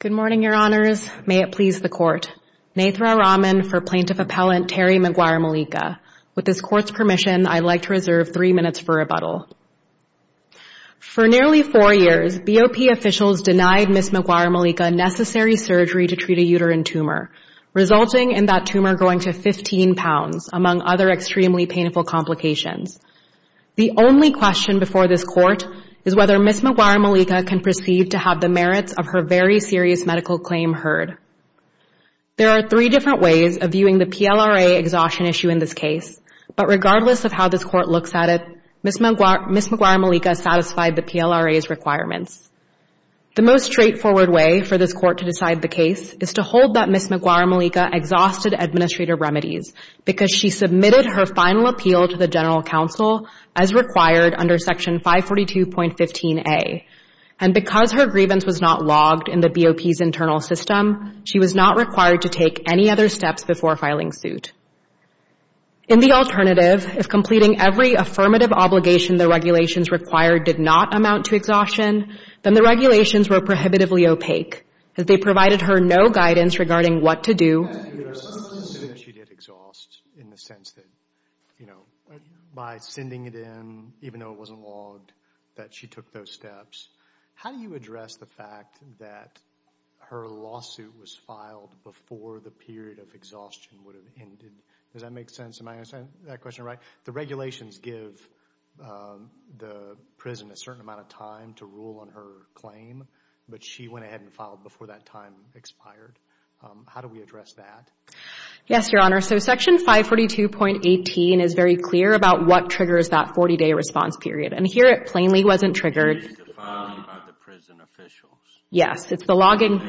Good morning, Your Honors. May it please the Court. Naithra Rahman for Plaintiff Appellant Terry McGuire-Mollica. With this Court's permission, I'd like to reserve three minutes for rebuttal. For nearly four years, BOP officials denied Ms. McGuire-Mollica necessary surgery to treat a uterine tumor, resulting in that tumor going to 15 pounds, among other extremely painful complications. The only question before this Court is whether Ms. McGuire-Mollica can proceed to have the merits of her very serious medical claim heard. There are three different ways of viewing the PLRA exhaustion issue in this case, but regardless of how this Court looks at it, Ms. McGuire-Mollica satisfied the PLRA's requirements. The most straightforward way for this Court to decide the case is to hold that Ms. McGuire-Mollica exhausted administrative remedies because she submitted her final appeal to the General Counsel as required under Section 542.15a, and because her grievance was not logged in the BOP's internal system, she was not required to take any other steps before filing suit. In the alternative, if completing every affirmative obligation the regulations required did not amount to exhaustion, then the regulations were prohibitively opaque, as they provided her no guidance regarding what to do. If she did exhaust in the sense that, you know, by sending it in, even though it wasn't logged, that she took those steps, how do you address the fact that her lawsuit was filed before the period of exhaustion would have ended? Does that make sense? Am I understanding that question right? The regulations give the prison a certain amount of time to rule on her claim, but she went ahead and filed before that time expired. How do we address that? Yes, Your Honor. So, Section 542.18 is very clear about what triggers that 40-day response period, and here it plainly wasn't triggered. It is defined by the prison officials. Yes, it's the logging.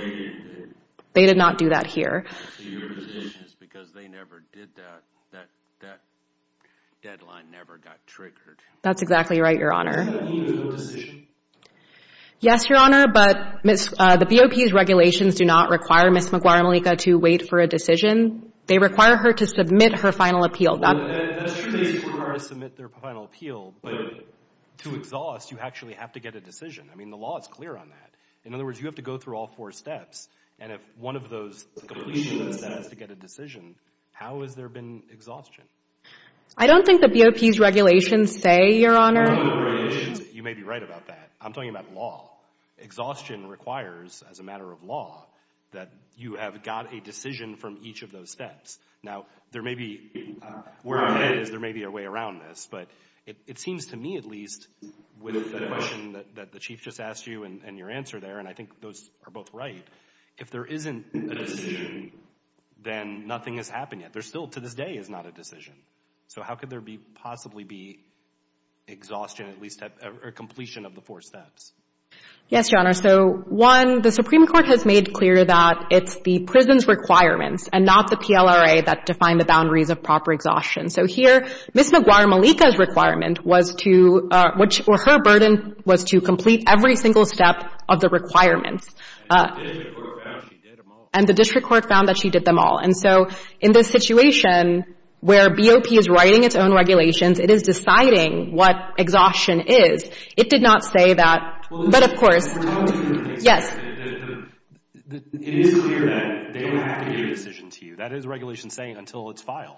They did not do that here. So, your position is because they never did that, that deadline never got triggered. That's exactly right, Your Honor. Does that mean there's no decision? Yes, Your Honor, but the BOP's regulations do not require Ms. Maguire-Malika to wait for a decision. They require her to submit her final appeal. Well, that's true, they do require her to submit their final appeal, but to exhaust, you actually have to get a decision. I mean, the law is clear on that. In other words, you have to go through all four steps, and if one of those completions that has to get a decision, how has there been exhaustion? I don't think the BOP's regulations say, Your Honor. You may be right about that. I'm talking about law. Exhaustion requires, as a matter of law, that you have got a decision from each of those steps. Now, there may be, where I'm it seems to me, at least, with the question that the Chief just asked you and your answer there, and I think those are both right, if there isn't a decision, then nothing has happened yet. There still, to this day, is not a decision. So how could there be, possibly be, exhaustion at least at completion of the four steps? Yes, Your Honor. So, one, the Supreme Court has made clear that it's the prison's requirements and not the PLRA that define the boundaries of proper exhaustion. So here, Ms. Maguire-Malika's requirement was to, or her burden, was to complete every single step of the requirements. And the district court found that she did them all. And so, in this situation, where BOP is writing its own regulations, it is deciding what exhaustion is. It did not say that, but of course, yes. It is clear that they don't have to give a decision to you. That is the regulation saying, until it's filed.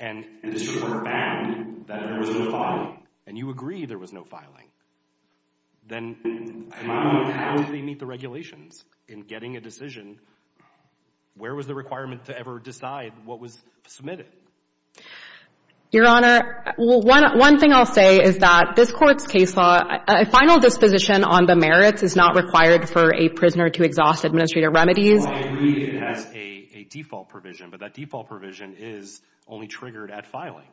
And the district court found that there was no filing. And you agree there was no filing. Then, how did they meet the regulations in getting a decision? Where was the requirement to ever decide what was submitted? Your Honor, one thing I'll say is that this Court's case law, a final disposition on the merits, is not required for a prisoner to exhaust administrative remedies. Well, I agree it has a default provision, but that default provision is only triggered at filing.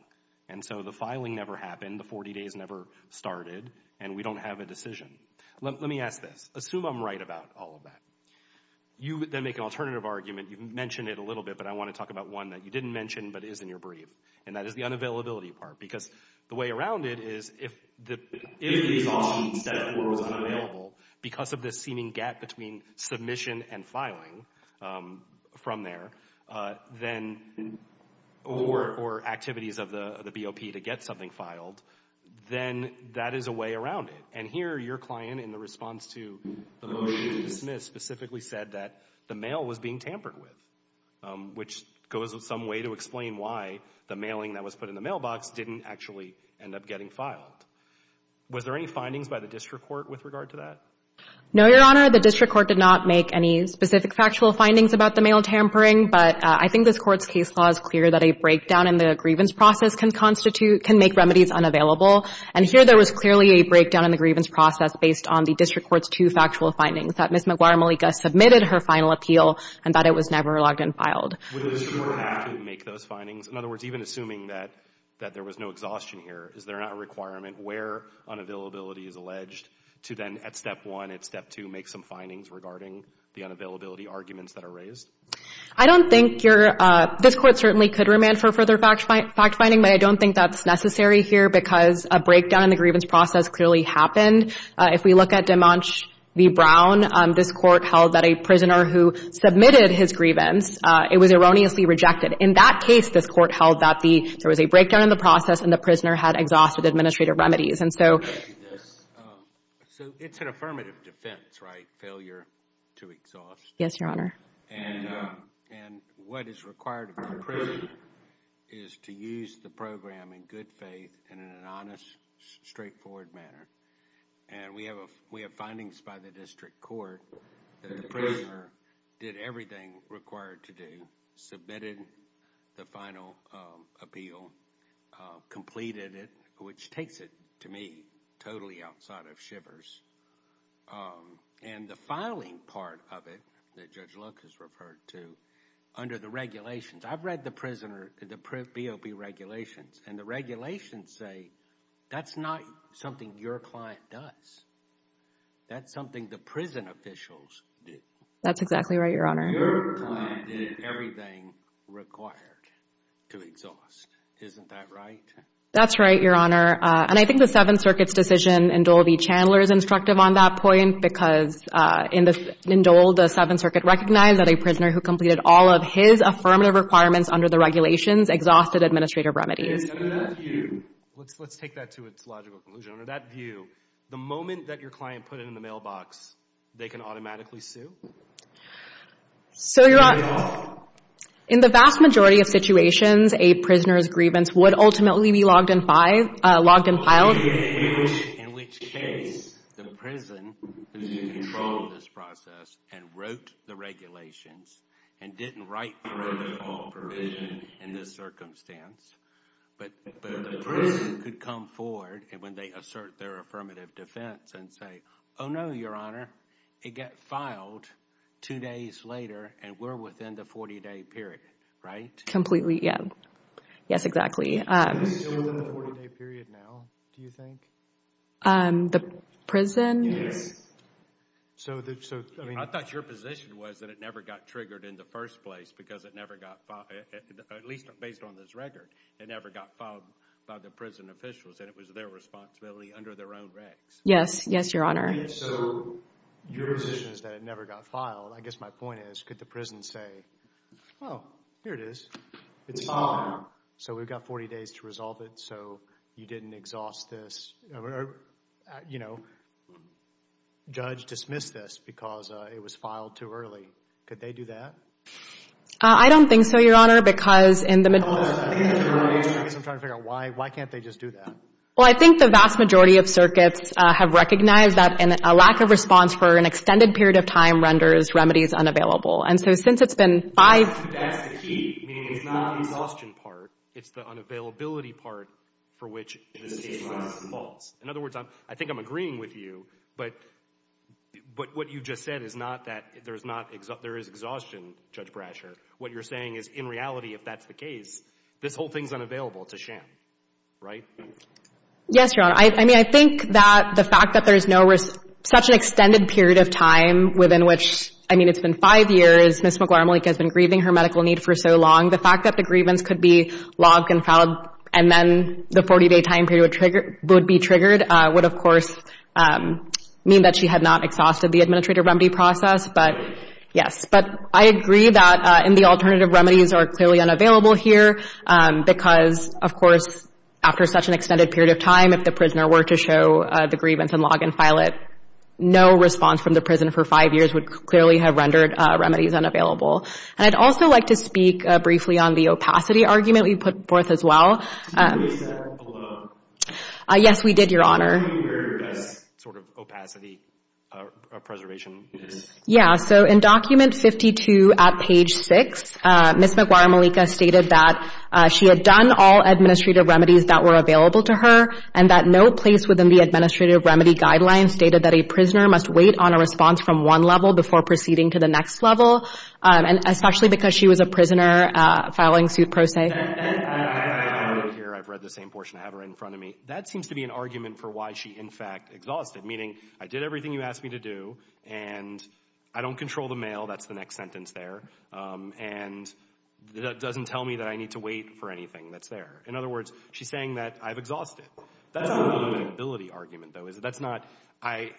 And so, the filing never happened. The 40 days never started. And we don't have a decision. Let me ask this. Assume I'm right about all of that. You then make an alternative argument. You mentioned it a little bit, but I want to talk about one that you didn't mention but is in your brief. And that is the unavailability part. Because the way around it is, if the because of this seeming gap between submission and filing from there, then, or activities of the BOP to get something filed, then that is a way around it. And here, your client, in the response to the motion to dismiss, specifically said that the mail was being tampered with, which goes some way to explain why the mailing that was put in the mailbox didn't actually end up getting filed. Was there any findings by the district court with regard to that? No, Your Honor. The district court did not make any specific factual findings about the mail tampering. But I think this Court's case law is clear that a breakdown in the grievance process can constitute, can make remedies unavailable. And here, there was clearly a breakdown in the grievance process based on the district court's two factual findings, that Ms. Maguire-Malika submitted her final appeal and that it was never logged and filed. Would a district court have to make those findings? In other words, even assuming that there was no exhaustion here, is there not a requirement where unavailability is alleged to then, at step one, at step two, make some findings regarding the unavailability arguments that are raised? I don't think your, this Court certainly could remand for further fact finding, but I don't think that's necessary here because a breakdown in the grievance process clearly happened. If we look at Demanche v. Brown, this Court held that a prisoner who submitted his grievance, it was erroneously rejected. In that case, this Court held that there was a breakdown in the remedies. And so... So, it's an affirmative defense, right? Failure to exhaust. Yes, Your Honor. And what is required of the prisoner is to use the program in good faith and in an honest, straightforward manner. And we have findings by the district court that the prisoner did everything required to do, submitted the final appeal, completed it, which takes it, to me, totally outside of shivers. And the filing part of it, that Judge Loke has referred to, under the regulations, I've read the prisoner, the BOP regulations, and the regulations say that's not something your client does. That's something the prison officials did. That's exactly right, Your Honor. Your client did everything required to exhaust. Isn't that right? That's right, Your Honor. And I think the Seventh Circuit's decision, in Dole v. Chandler, is instructive on that point, because in the, in Dole, the Seventh Circuit recognized that a prisoner who completed all of his affirmative requirements under the regulations exhausted administrative remedies. Let's take that to its logical conclusion. Under that view, the moment that your client put it in the mailbox, they can automatically sue? So, Your Honor, in the vast majority of situations, a prisoner's grievance would ultimately be logged and filed. In which case, the prison who controlled this process, and wrote the regulations, and didn't write the protocol provision in this circumstance, but the prison could come forward, and when they assert their affirmative defense, and say, oh no, Your Honor, it got filed two days later, and we're within the 40-day period, right? Completely, yeah. Yes, exactly. Are we still within the 40-day period now, do you think? The prison? Yes. I thought your position was that it never got triggered in the first place, because it never got filed, at least based on this record. It never got filed by the prison officials, and it was their responsibility under their own regs. Yes, yes, Your Honor. So, your position is that it never got filed. I guess my point is, could the prison say, oh, here it is, it's filed now, so we've got 40 days to resolve it, so you didn't exhaust this, you know, judge dismissed this, because it was filed too early. Could they do that? I don't think so, Your Honor, because in the majority... I guess I'm trying to figure out, why can't they just do that? Well, I think the vast majority of circuits have recognized that a lack of response for an extended period of time renders remedies unavailable. And so, since it's been five... That's the key, meaning it's not the exhaustion part, it's the unavailability part for which... In other words, I think I'm agreeing with you, but what you just said is not that there is exhaustion, Judge Brasher. What you're saying is, in reality, if that's the case, this whole thing's unavailable. It's a sham, right? Yes, Your Honor. I mean, I think that the fact that there's no... Such an extended period of time within which... I mean, it's been five years, Ms. McLarmelink has been grieving her medical need for so long. The fact that the grievance could be logged and filed, and then the 40-day time period would be triggered would, of course, mean that she had not exhausted the administrative remedy process, but yes. But I agree that the alternative remedies are clearly unavailable here because, of course, after such an extended period of time, if the prisoner were to show the grievance and log and file it, no response from the prison for five years would clearly have rendered remedies unavailable. And I'd also like to speak briefly on the opacity argument we put forth as well. Yes, we did, Your Honor. Sort of opacity of preservation. Yeah, so in document 52 at page 6, Ms. McLarmelink stated that she had done all administrative remedies that were available to her and that no place within the administrative remedy guidelines stated that a prisoner must wait on a response from one level before proceeding to the next level, and especially because she was a prisoner filing suit pro se. I've read the same portion. I have it right in front of me. That seems to be an argument for why she, in fact, exhausted, meaning I did everything you asked me to do, and I don't control the mail, that's the next sentence there, and that doesn't tell me that I need to wait for anything that's there. In other words, she's saying that I've exhausted. That's not an availability argument, though, is it? That's not, I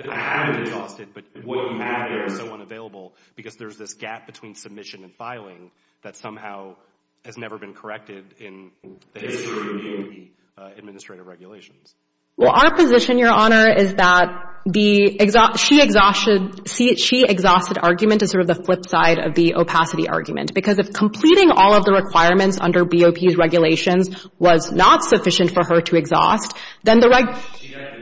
haven't exhausted, but what you have there is so unavailable because there's this gap between submission and filing that somehow has never been corrected in the history of BOP administrative regulations. Well, our position, Your Honor, is that the, she exhausted argument is sort of the flip side of the opacity argument because if completing all of the requirements under BOP's regulations was not sufficient for her to exhaust, then the... She doesn't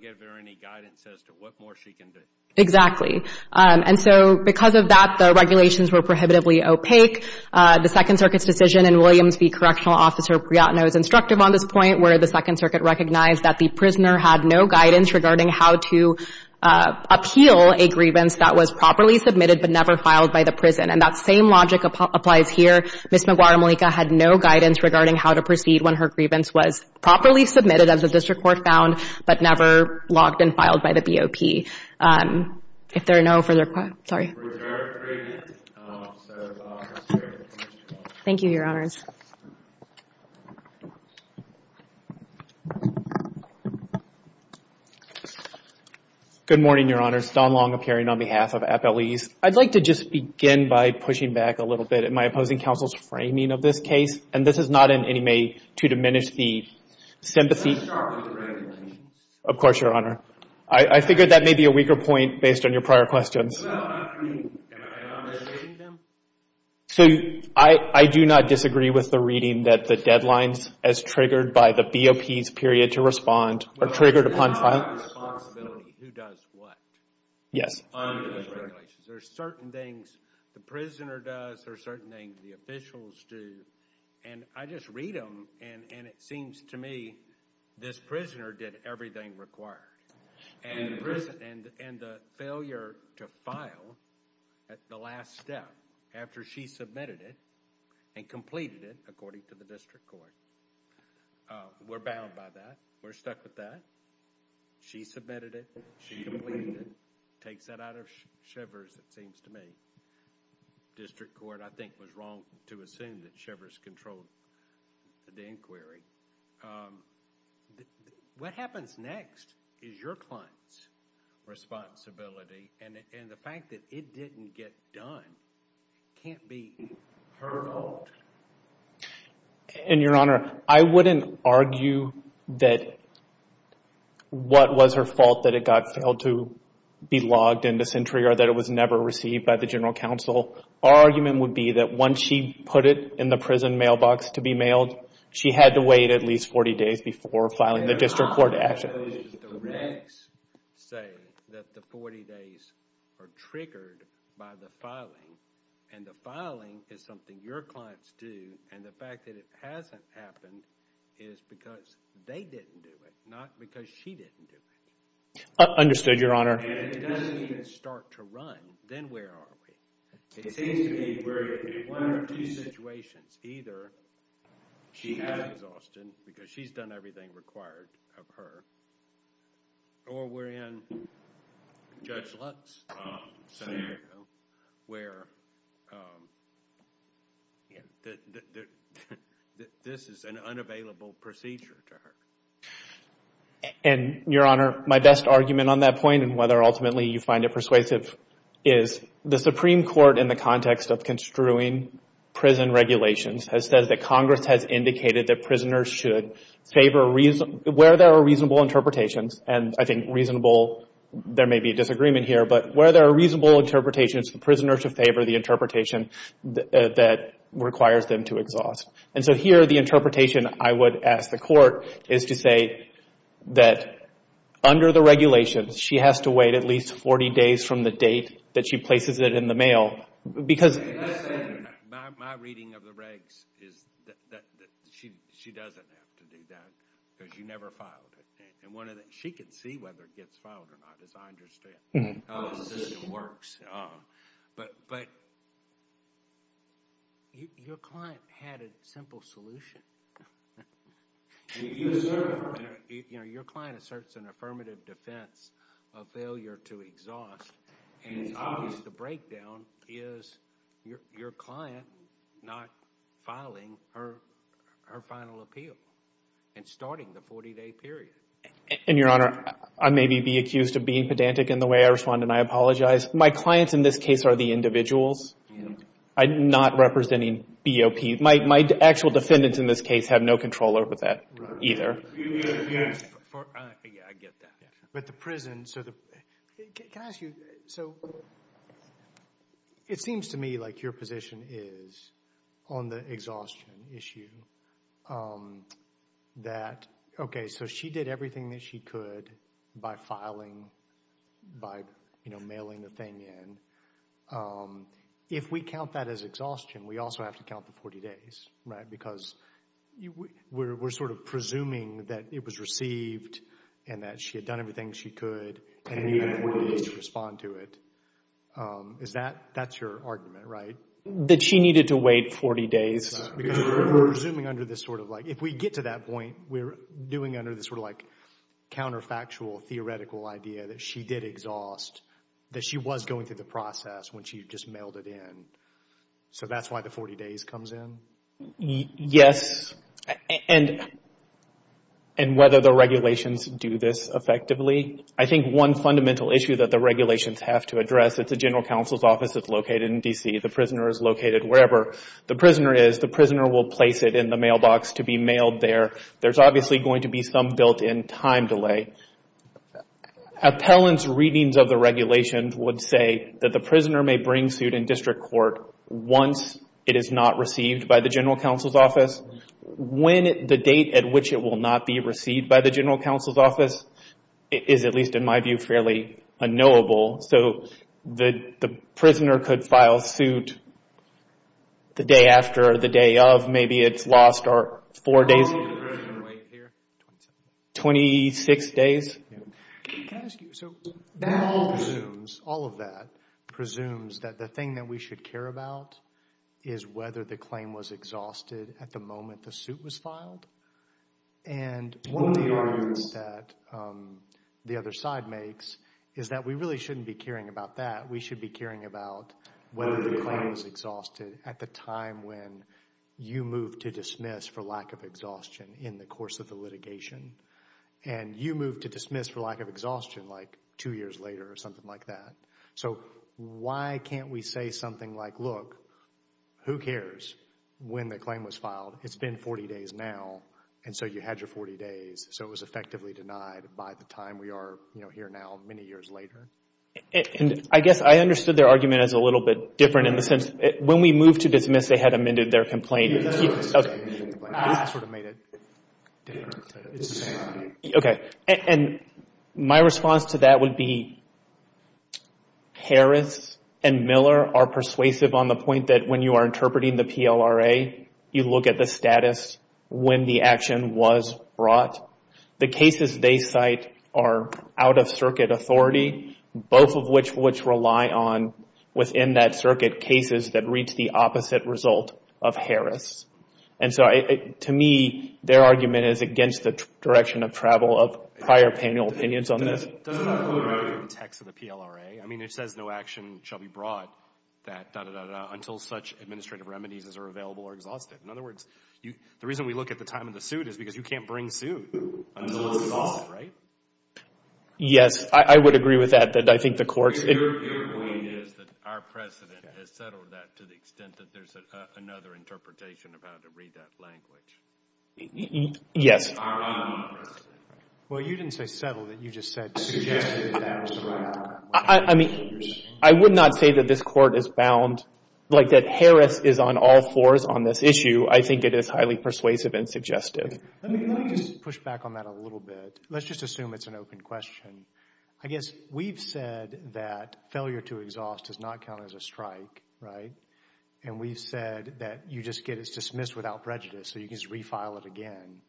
give her any guidance as to what more she can do. Exactly, and so because of that, the regulations were prohibitively opaque. The Second Circuit's decision in Williams v. Correctional Officer Briatno is instructive on this point where the Second Circuit recognized that the prisoner had no guidance regarding how to appeal a grievance that was properly submitted but never filed by the prison, and that same logic applies here. Ms. Maguire-Malika had no guidance regarding how to proceed when her grievance was properly submitted, as the district court found, but never logged and filed by the BOP. If there are no further questions, sorry. We're adjourned for today, so I'll pass it over to the Commissioner. Thank you, Your Honors. Good morning, Your Honors. Don Long appearing on behalf of Appellees. I'd like to just begin by pushing back a little bit in my opposing counsel's framing of this case, and this is not in any way to diminish the sympathy... Can you start with the framing, please? Of course, Your Honor. I figured that may be a weaker point based on your prior questions. Well, I mean, am I understating them? So, I do not disagree with the reading that the deadlines, as triggered by the BOP's period to respond, are triggered upon filing. Well, it's not my responsibility who does what under those regulations. There are certain things the prisoner does, there are certain things the officials do, and I just read them, and it seems to me this prisoner did everything required. And the failure to file at the last step after she submitted it and completed it, according to the District Court, we're bound by that. We're stuck with that. She submitted it. She completed it. Takes that out of Shivers, it seems to me. District Court, I think, was wrong to assume that Shivers controlled the inquiry. What happens next is your client's responsibility, and the fact that it didn't get done can't be her fault. And, Your Honor, I wouldn't argue that what was her fault that it got failed to be logged into Sentry or that it was never received by the General Counsel. Our argument would be that once she put it in the prison mailbox to be mailed, she had to wait at least 40 days before filing the District Court action. The regs say that the 40 days are triggered by the filing, and the filing is something your clients do, and the fact that it hasn't happened is because they didn't do it, not because she didn't do it. Understood, Your Honor. And if it doesn't even start to run, then where are we? It seems to me we're in one of two situations. Either she has exhausted, because she's done everything required of her, or we're in Judge Lutz's scenario where this is an unavailable procedure to her. And, Your Honor, my best argument on that point, and whether ultimately you find it persuasive, is the Supreme Court, in the context of construing prison regulations, has said that Congress has indicated that prisoners should favor, where there are reasonable interpretations, and I think reasonable, there may be a disagreement here, but where there are reasonable interpretations, prisoners should favor the interpretation that requires them to exhaust. And so here, the interpretation I would ask the Court is to say that under the regulations, she has to wait at least 40 days from the date that she places it in the mail, because... That's my reading of the regs, is that she doesn't have to do that, because you never filed it. And one of the... She can see whether it gets filed or not, as I understand how the system works. But your client had a simple solution. And if you assert, you know, your client asserts an affirmative defense of failure to exhaust, and it's obvious the breakdown is your client not filing her final appeal, and starting the 40-day period. And, Your Honor, I may be accused of being pedantic in the way I respond, and I apologize. My clients, in this case, are the individuals, not representing BOP. My actual defendants, in this case, have no control over that either. I get that. But the prison, so the... Can I ask you, so it seems to me like your position is, on the exhaustion issue, that, okay, so she did everything that she could by filing, by, you know, mailing the thing in. If we count that as exhaustion, we also have to count the 40 days, right? Because we're sort of presuming that it was received, and that she had done everything she could, and needed 40 days to respond to it. Is that, that's your argument, right? That she needed to wait 40 days. Because we're presuming under this sort of like, if we get to that point, we're doing under this sort of like counterfactual, theoretical idea that she did exhaust, that she was going through the process when she just mailed it in. So that's why the 40 days comes in? Yes, and whether the regulations do this effectively. I think one fundamental issue that the regulations have to address, it's a general counsel's office that's located in D.C. The prisoner is located wherever the prisoner is. The prisoner will place it in the mailbox to be mailed there. There's obviously going to be some built-in time delay. Appellant's readings of the regulations would say that the prisoner may bring suit in district court once it is not received by the general counsel's office. When the date at which it will not be received by the general counsel's office is, at least in my view, fairly unknowable. So the prisoner could file suit the day after, the day of, maybe it's lost, or four days. Wait here, 26 days. Can I ask you, so all of that presumes that the thing that we should care about is whether the claim was exhausted at the moment the suit was filed. And one of the arguments that the other side makes is that we really shouldn't be caring about that. We should be caring about whether the claim was exhausted at the time when you moved to dismiss for lack of exhaustion in the course of the litigation. And you moved to dismiss for lack of exhaustion like two years later or something like that. So why can't we say something like, look, who cares when the claim was filed? It's been 40 days now, and so you had your 40 days. So it was effectively denied by the time we are here now, many years later. And I guess I understood their argument as a little bit different in the sense, when we moved to dismiss, they had amended their complaint. Okay, and my response to that would be, Harris and Miller are persuasive on the point that when you are interpreting the PLRA, you look at the status when the action was brought. The cases they cite are out-of-circuit authority, both of which rely on, within that circuit, cases that reach the opposite result of Harris. And so to me, their argument is against the direction of travel of prior panel opinions on this. It doesn't have to do with the text of the PLRA. I mean, it says no action shall be brought until such administrative remedies are available or exhausted. In other words, the reason we look at the time of the suit is because you can't bring suit until it's exhausted, right? Yes, I would agree with that. But I think the courts... Your point is that our precedent has settled that to the extent that there's another interpretation of how to read that language. Yes. Well, you didn't say settled. You just said suggested that was the right one. I mean, I would not say that this court is bound, like that Harris is on all fours on this issue. I think it is highly persuasive and suggestive. Let me just push back on that a little bit. Let's just assume it's an open question. I guess we've said that failure to exhaust does not count as a strike, right? And we've said that you just get it dismissed without prejudice, so you can just refile it again.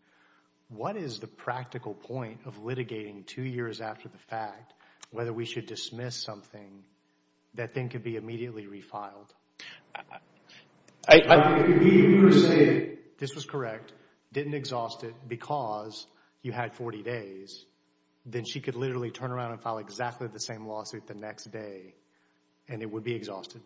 What is the practical point of litigating two years after the fact, whether we should dismiss something that then could be immediately refiled? This was correct. Didn't exhaust it because you had 40 days, then she could literally turn around and file exactly the same lawsuit the next day and it would be exhausted.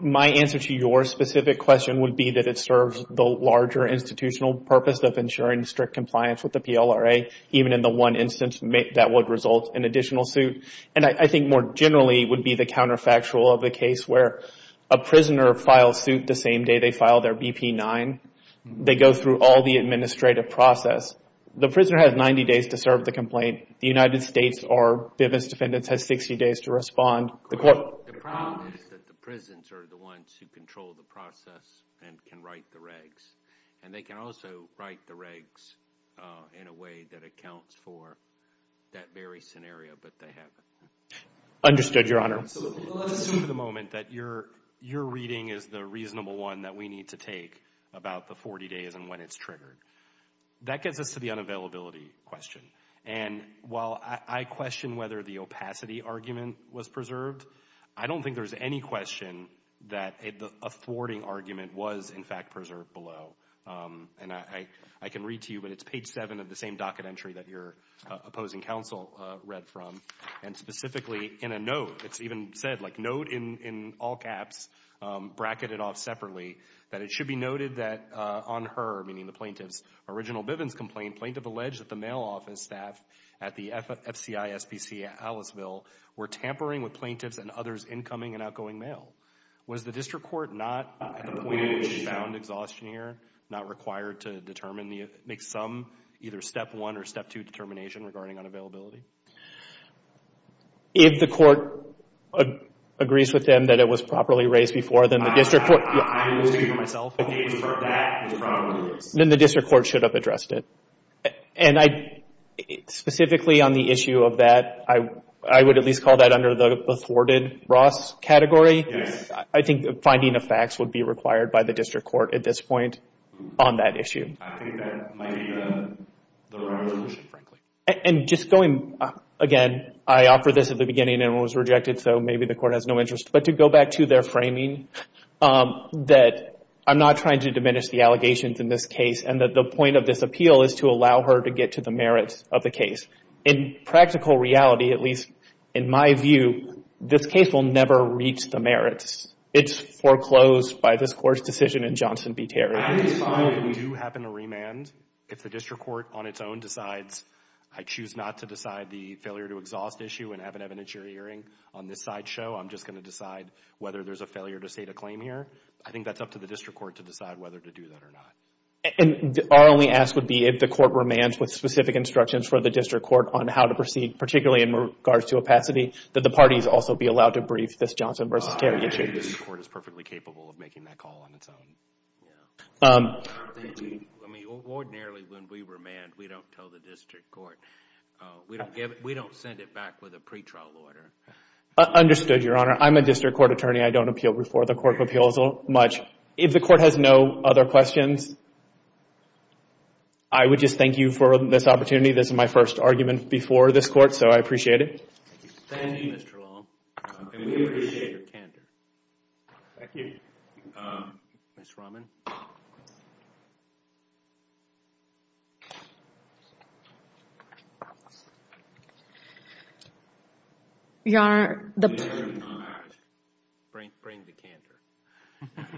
My answer to your specific question would be that it serves the larger institutional purpose of ensuring strict compliance with the PLRA, even in the one instance that would result in additional suit. And I think more generally would be the counterfactual of a case where a prisoner files suit the same day they file their BP-9. They go through all the administrative process. The prisoner has 90 days to serve the complaint. The United States or Bivens defendants has 60 days to respond. The problem is that the prisons are the ones who control the process and can write the regs. And they can also write the regs in a way that accounts for that very scenario, but they haven't. Understood, Your Honor. So let's assume for the moment that your reading is the reasonable one that we need to take about the 40 days and when it's triggered. That gets us to the unavailability question. And while I question whether the opacity argument was preserved, I don't think there's any question that a thwarting argument was in fact preserved below. And I can read to you, but it's page seven of the same docket entry that your opposing counsel read from. And specifically in a note, it's even said like, note in all caps bracketed off separately, that it should be noted that on her, meaning the plaintiff's original Bivens complaint, plaintiff alleged that the mail office staff at the FCI, SPC, Aliceville were tampering with plaintiffs and others incoming and outgoing mail. Was the district court not at the point in which found exhaustion here not required to determine, make some either step one or step two determination regarding unavailability? If the court agrees with them that it was properly raised before, then the district court... I was speaking for myself. If it was raised before that, it was properly raised. Then the district court should have addressed it. And I, specifically on the issue of that, I would at least call that under the thwarted Ross category. I think the finding of facts would be required by the district court at this point on that issue. I think that might be the right solution, frankly. And just going, again, I offered this at the beginning and it was rejected, so maybe the court has no interest. But to go back to their framing, that I'm not trying to diminish the allegations in this case and that the point of this appeal is to allow her to get to the merits of the case. In practical reality, at least in my view, this case will never reach the merits. It's foreclosed by this court's decision in Johnson v. Terry. I think it's fine if we do happen to remand if the district court on its own decides, I choose not to decide the failure to exhaust issue and have it evidence your hearing. On this side show, I'm just going to decide whether there's a failure to state a claim here. I think that's up to the district court to decide whether to do that or not. And our only ask would be if the court remands with specific instructions for the district court on how to proceed, particularly in regards to opacity, that the parties also be allowed to brief this Johnson v. Terry issue. I think the district court is perfectly capable of making that call on its own. Thank you. I mean, ordinarily when we remand, we don't tell the district court. We don't send it back with a pretrial order. Understood, Your Honor. I'm a district court attorney. I don't appeal before the court of appeals much. If the court has no other questions, I would just thank you for this opportunity. This is my first argument before this court, so I appreciate it. Thank you, Mr. Long. And we appreciate your candor. Thank you. Ms. Raman. Your Honor, the... Bring the candor.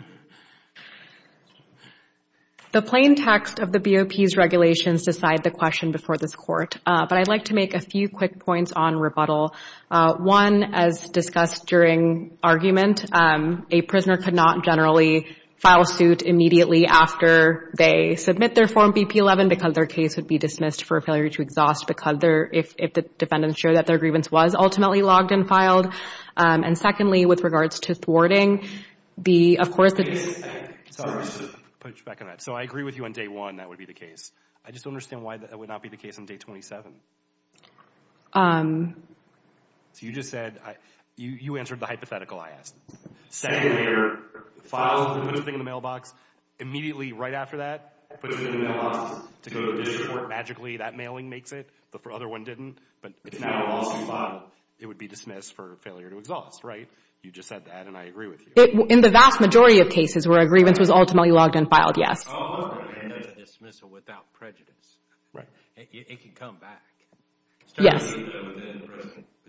The plain text of the BOP's regulations decide the question before this court, but I'd like to make a few quick points on rebuttal. One, as discussed during argument, a prisoner could not generally file suit immediately after they submit their form BP-11 because their case would be dismissed for a failure to exhaust because if the defendants show that their grievance was ultimately logged and filed. And secondly, with regards to thwarting, of course, it's... Sorry, just to push back on that. So I agree with you on day one that would be the case. I just don't understand why that would not be the case on day 27. So you just said, you answered the hypothetical I asked. Sent it here. Filed and put it in the mailbox. Immediately right after that, put it in the mailbox to go to the district court. Magically, that mailing makes it, but the other one didn't. But it's not a lawsuit file. It would be dismissed for failure to exhaust, right? You just said that, and I agree with you. In the vast majority of cases where a grievance was ultimately logged and filed, yes. Oh, okay. And that's a dismissal without prejudice. Right. It can come back. Yes.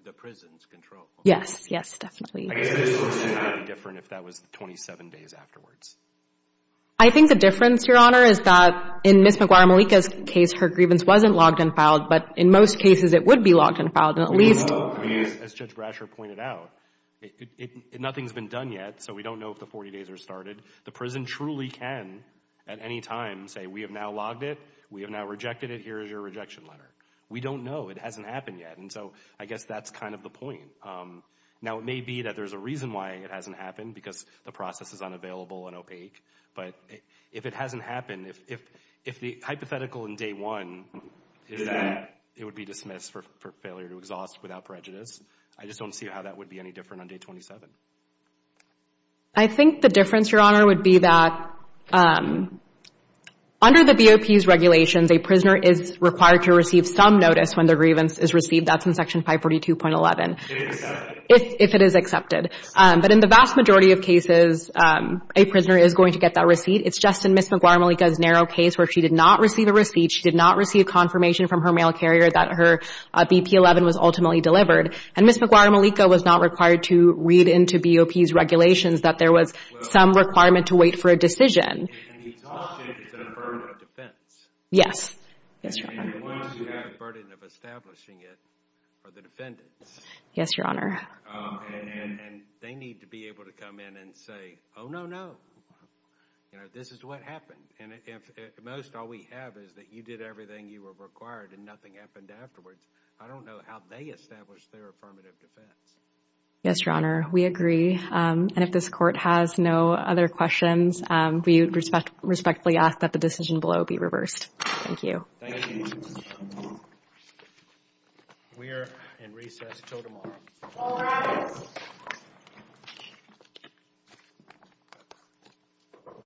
The prison's control. Yes, yes, definitely. If that was 27 days afterwards. I think the difference, Your Honor, is that in Ms. McGuire-Malika's case, her grievance wasn't logged and filed. But in most cases, it would be logged and filed. And at least, as Judge Brasher pointed out, nothing's been done yet. So we don't know if the 40 days are started. The prison truly can at any time say, we have now logged it. We have now rejected it. Here is your rejection letter. We don't know. It hasn't happened yet. And so I guess that's kind of the point. Now, it may be that there's a reason why it hasn't happened because the process is unavailable and opaque. But if it hasn't happened, if the hypothetical in day one is that it would be dismissed for failure to exhaust without prejudice, I just don't see how that would be any different on day 27. I think the difference, Your Honor, would be that under the BOP's regulations, a prisoner is required to receive some notice when their grievance is received. That's in section 542.11. If it is accepted. But in the vast majority of cases, a prisoner is going to get that receipt. It's just in Ms. Maguire-Malika's narrow case where she did not receive a receipt. She did not receive confirmation from her mail carrier that her BP-11 was ultimately delivered. And Ms. Maguire-Malika was not required to read into BOP's regulations that there was some requirement to wait for a decision. And the exhaustion is a burden of defense. Yes. Yes, Your Honor. And once you have a burden of establishing it for the defendants, Yes, Your Honor. and they need to be able to come in and say, oh, no, no. You know, this is what happened. And if at most all we have is that you did everything you were required and nothing happened afterwards, I don't know how they established their affirmative defense. Yes, Your Honor. We agree. And if this court has no other questions, we respectfully ask that the decision below be reversed. Thank you. Thank you. We are in recess until tomorrow. All rise.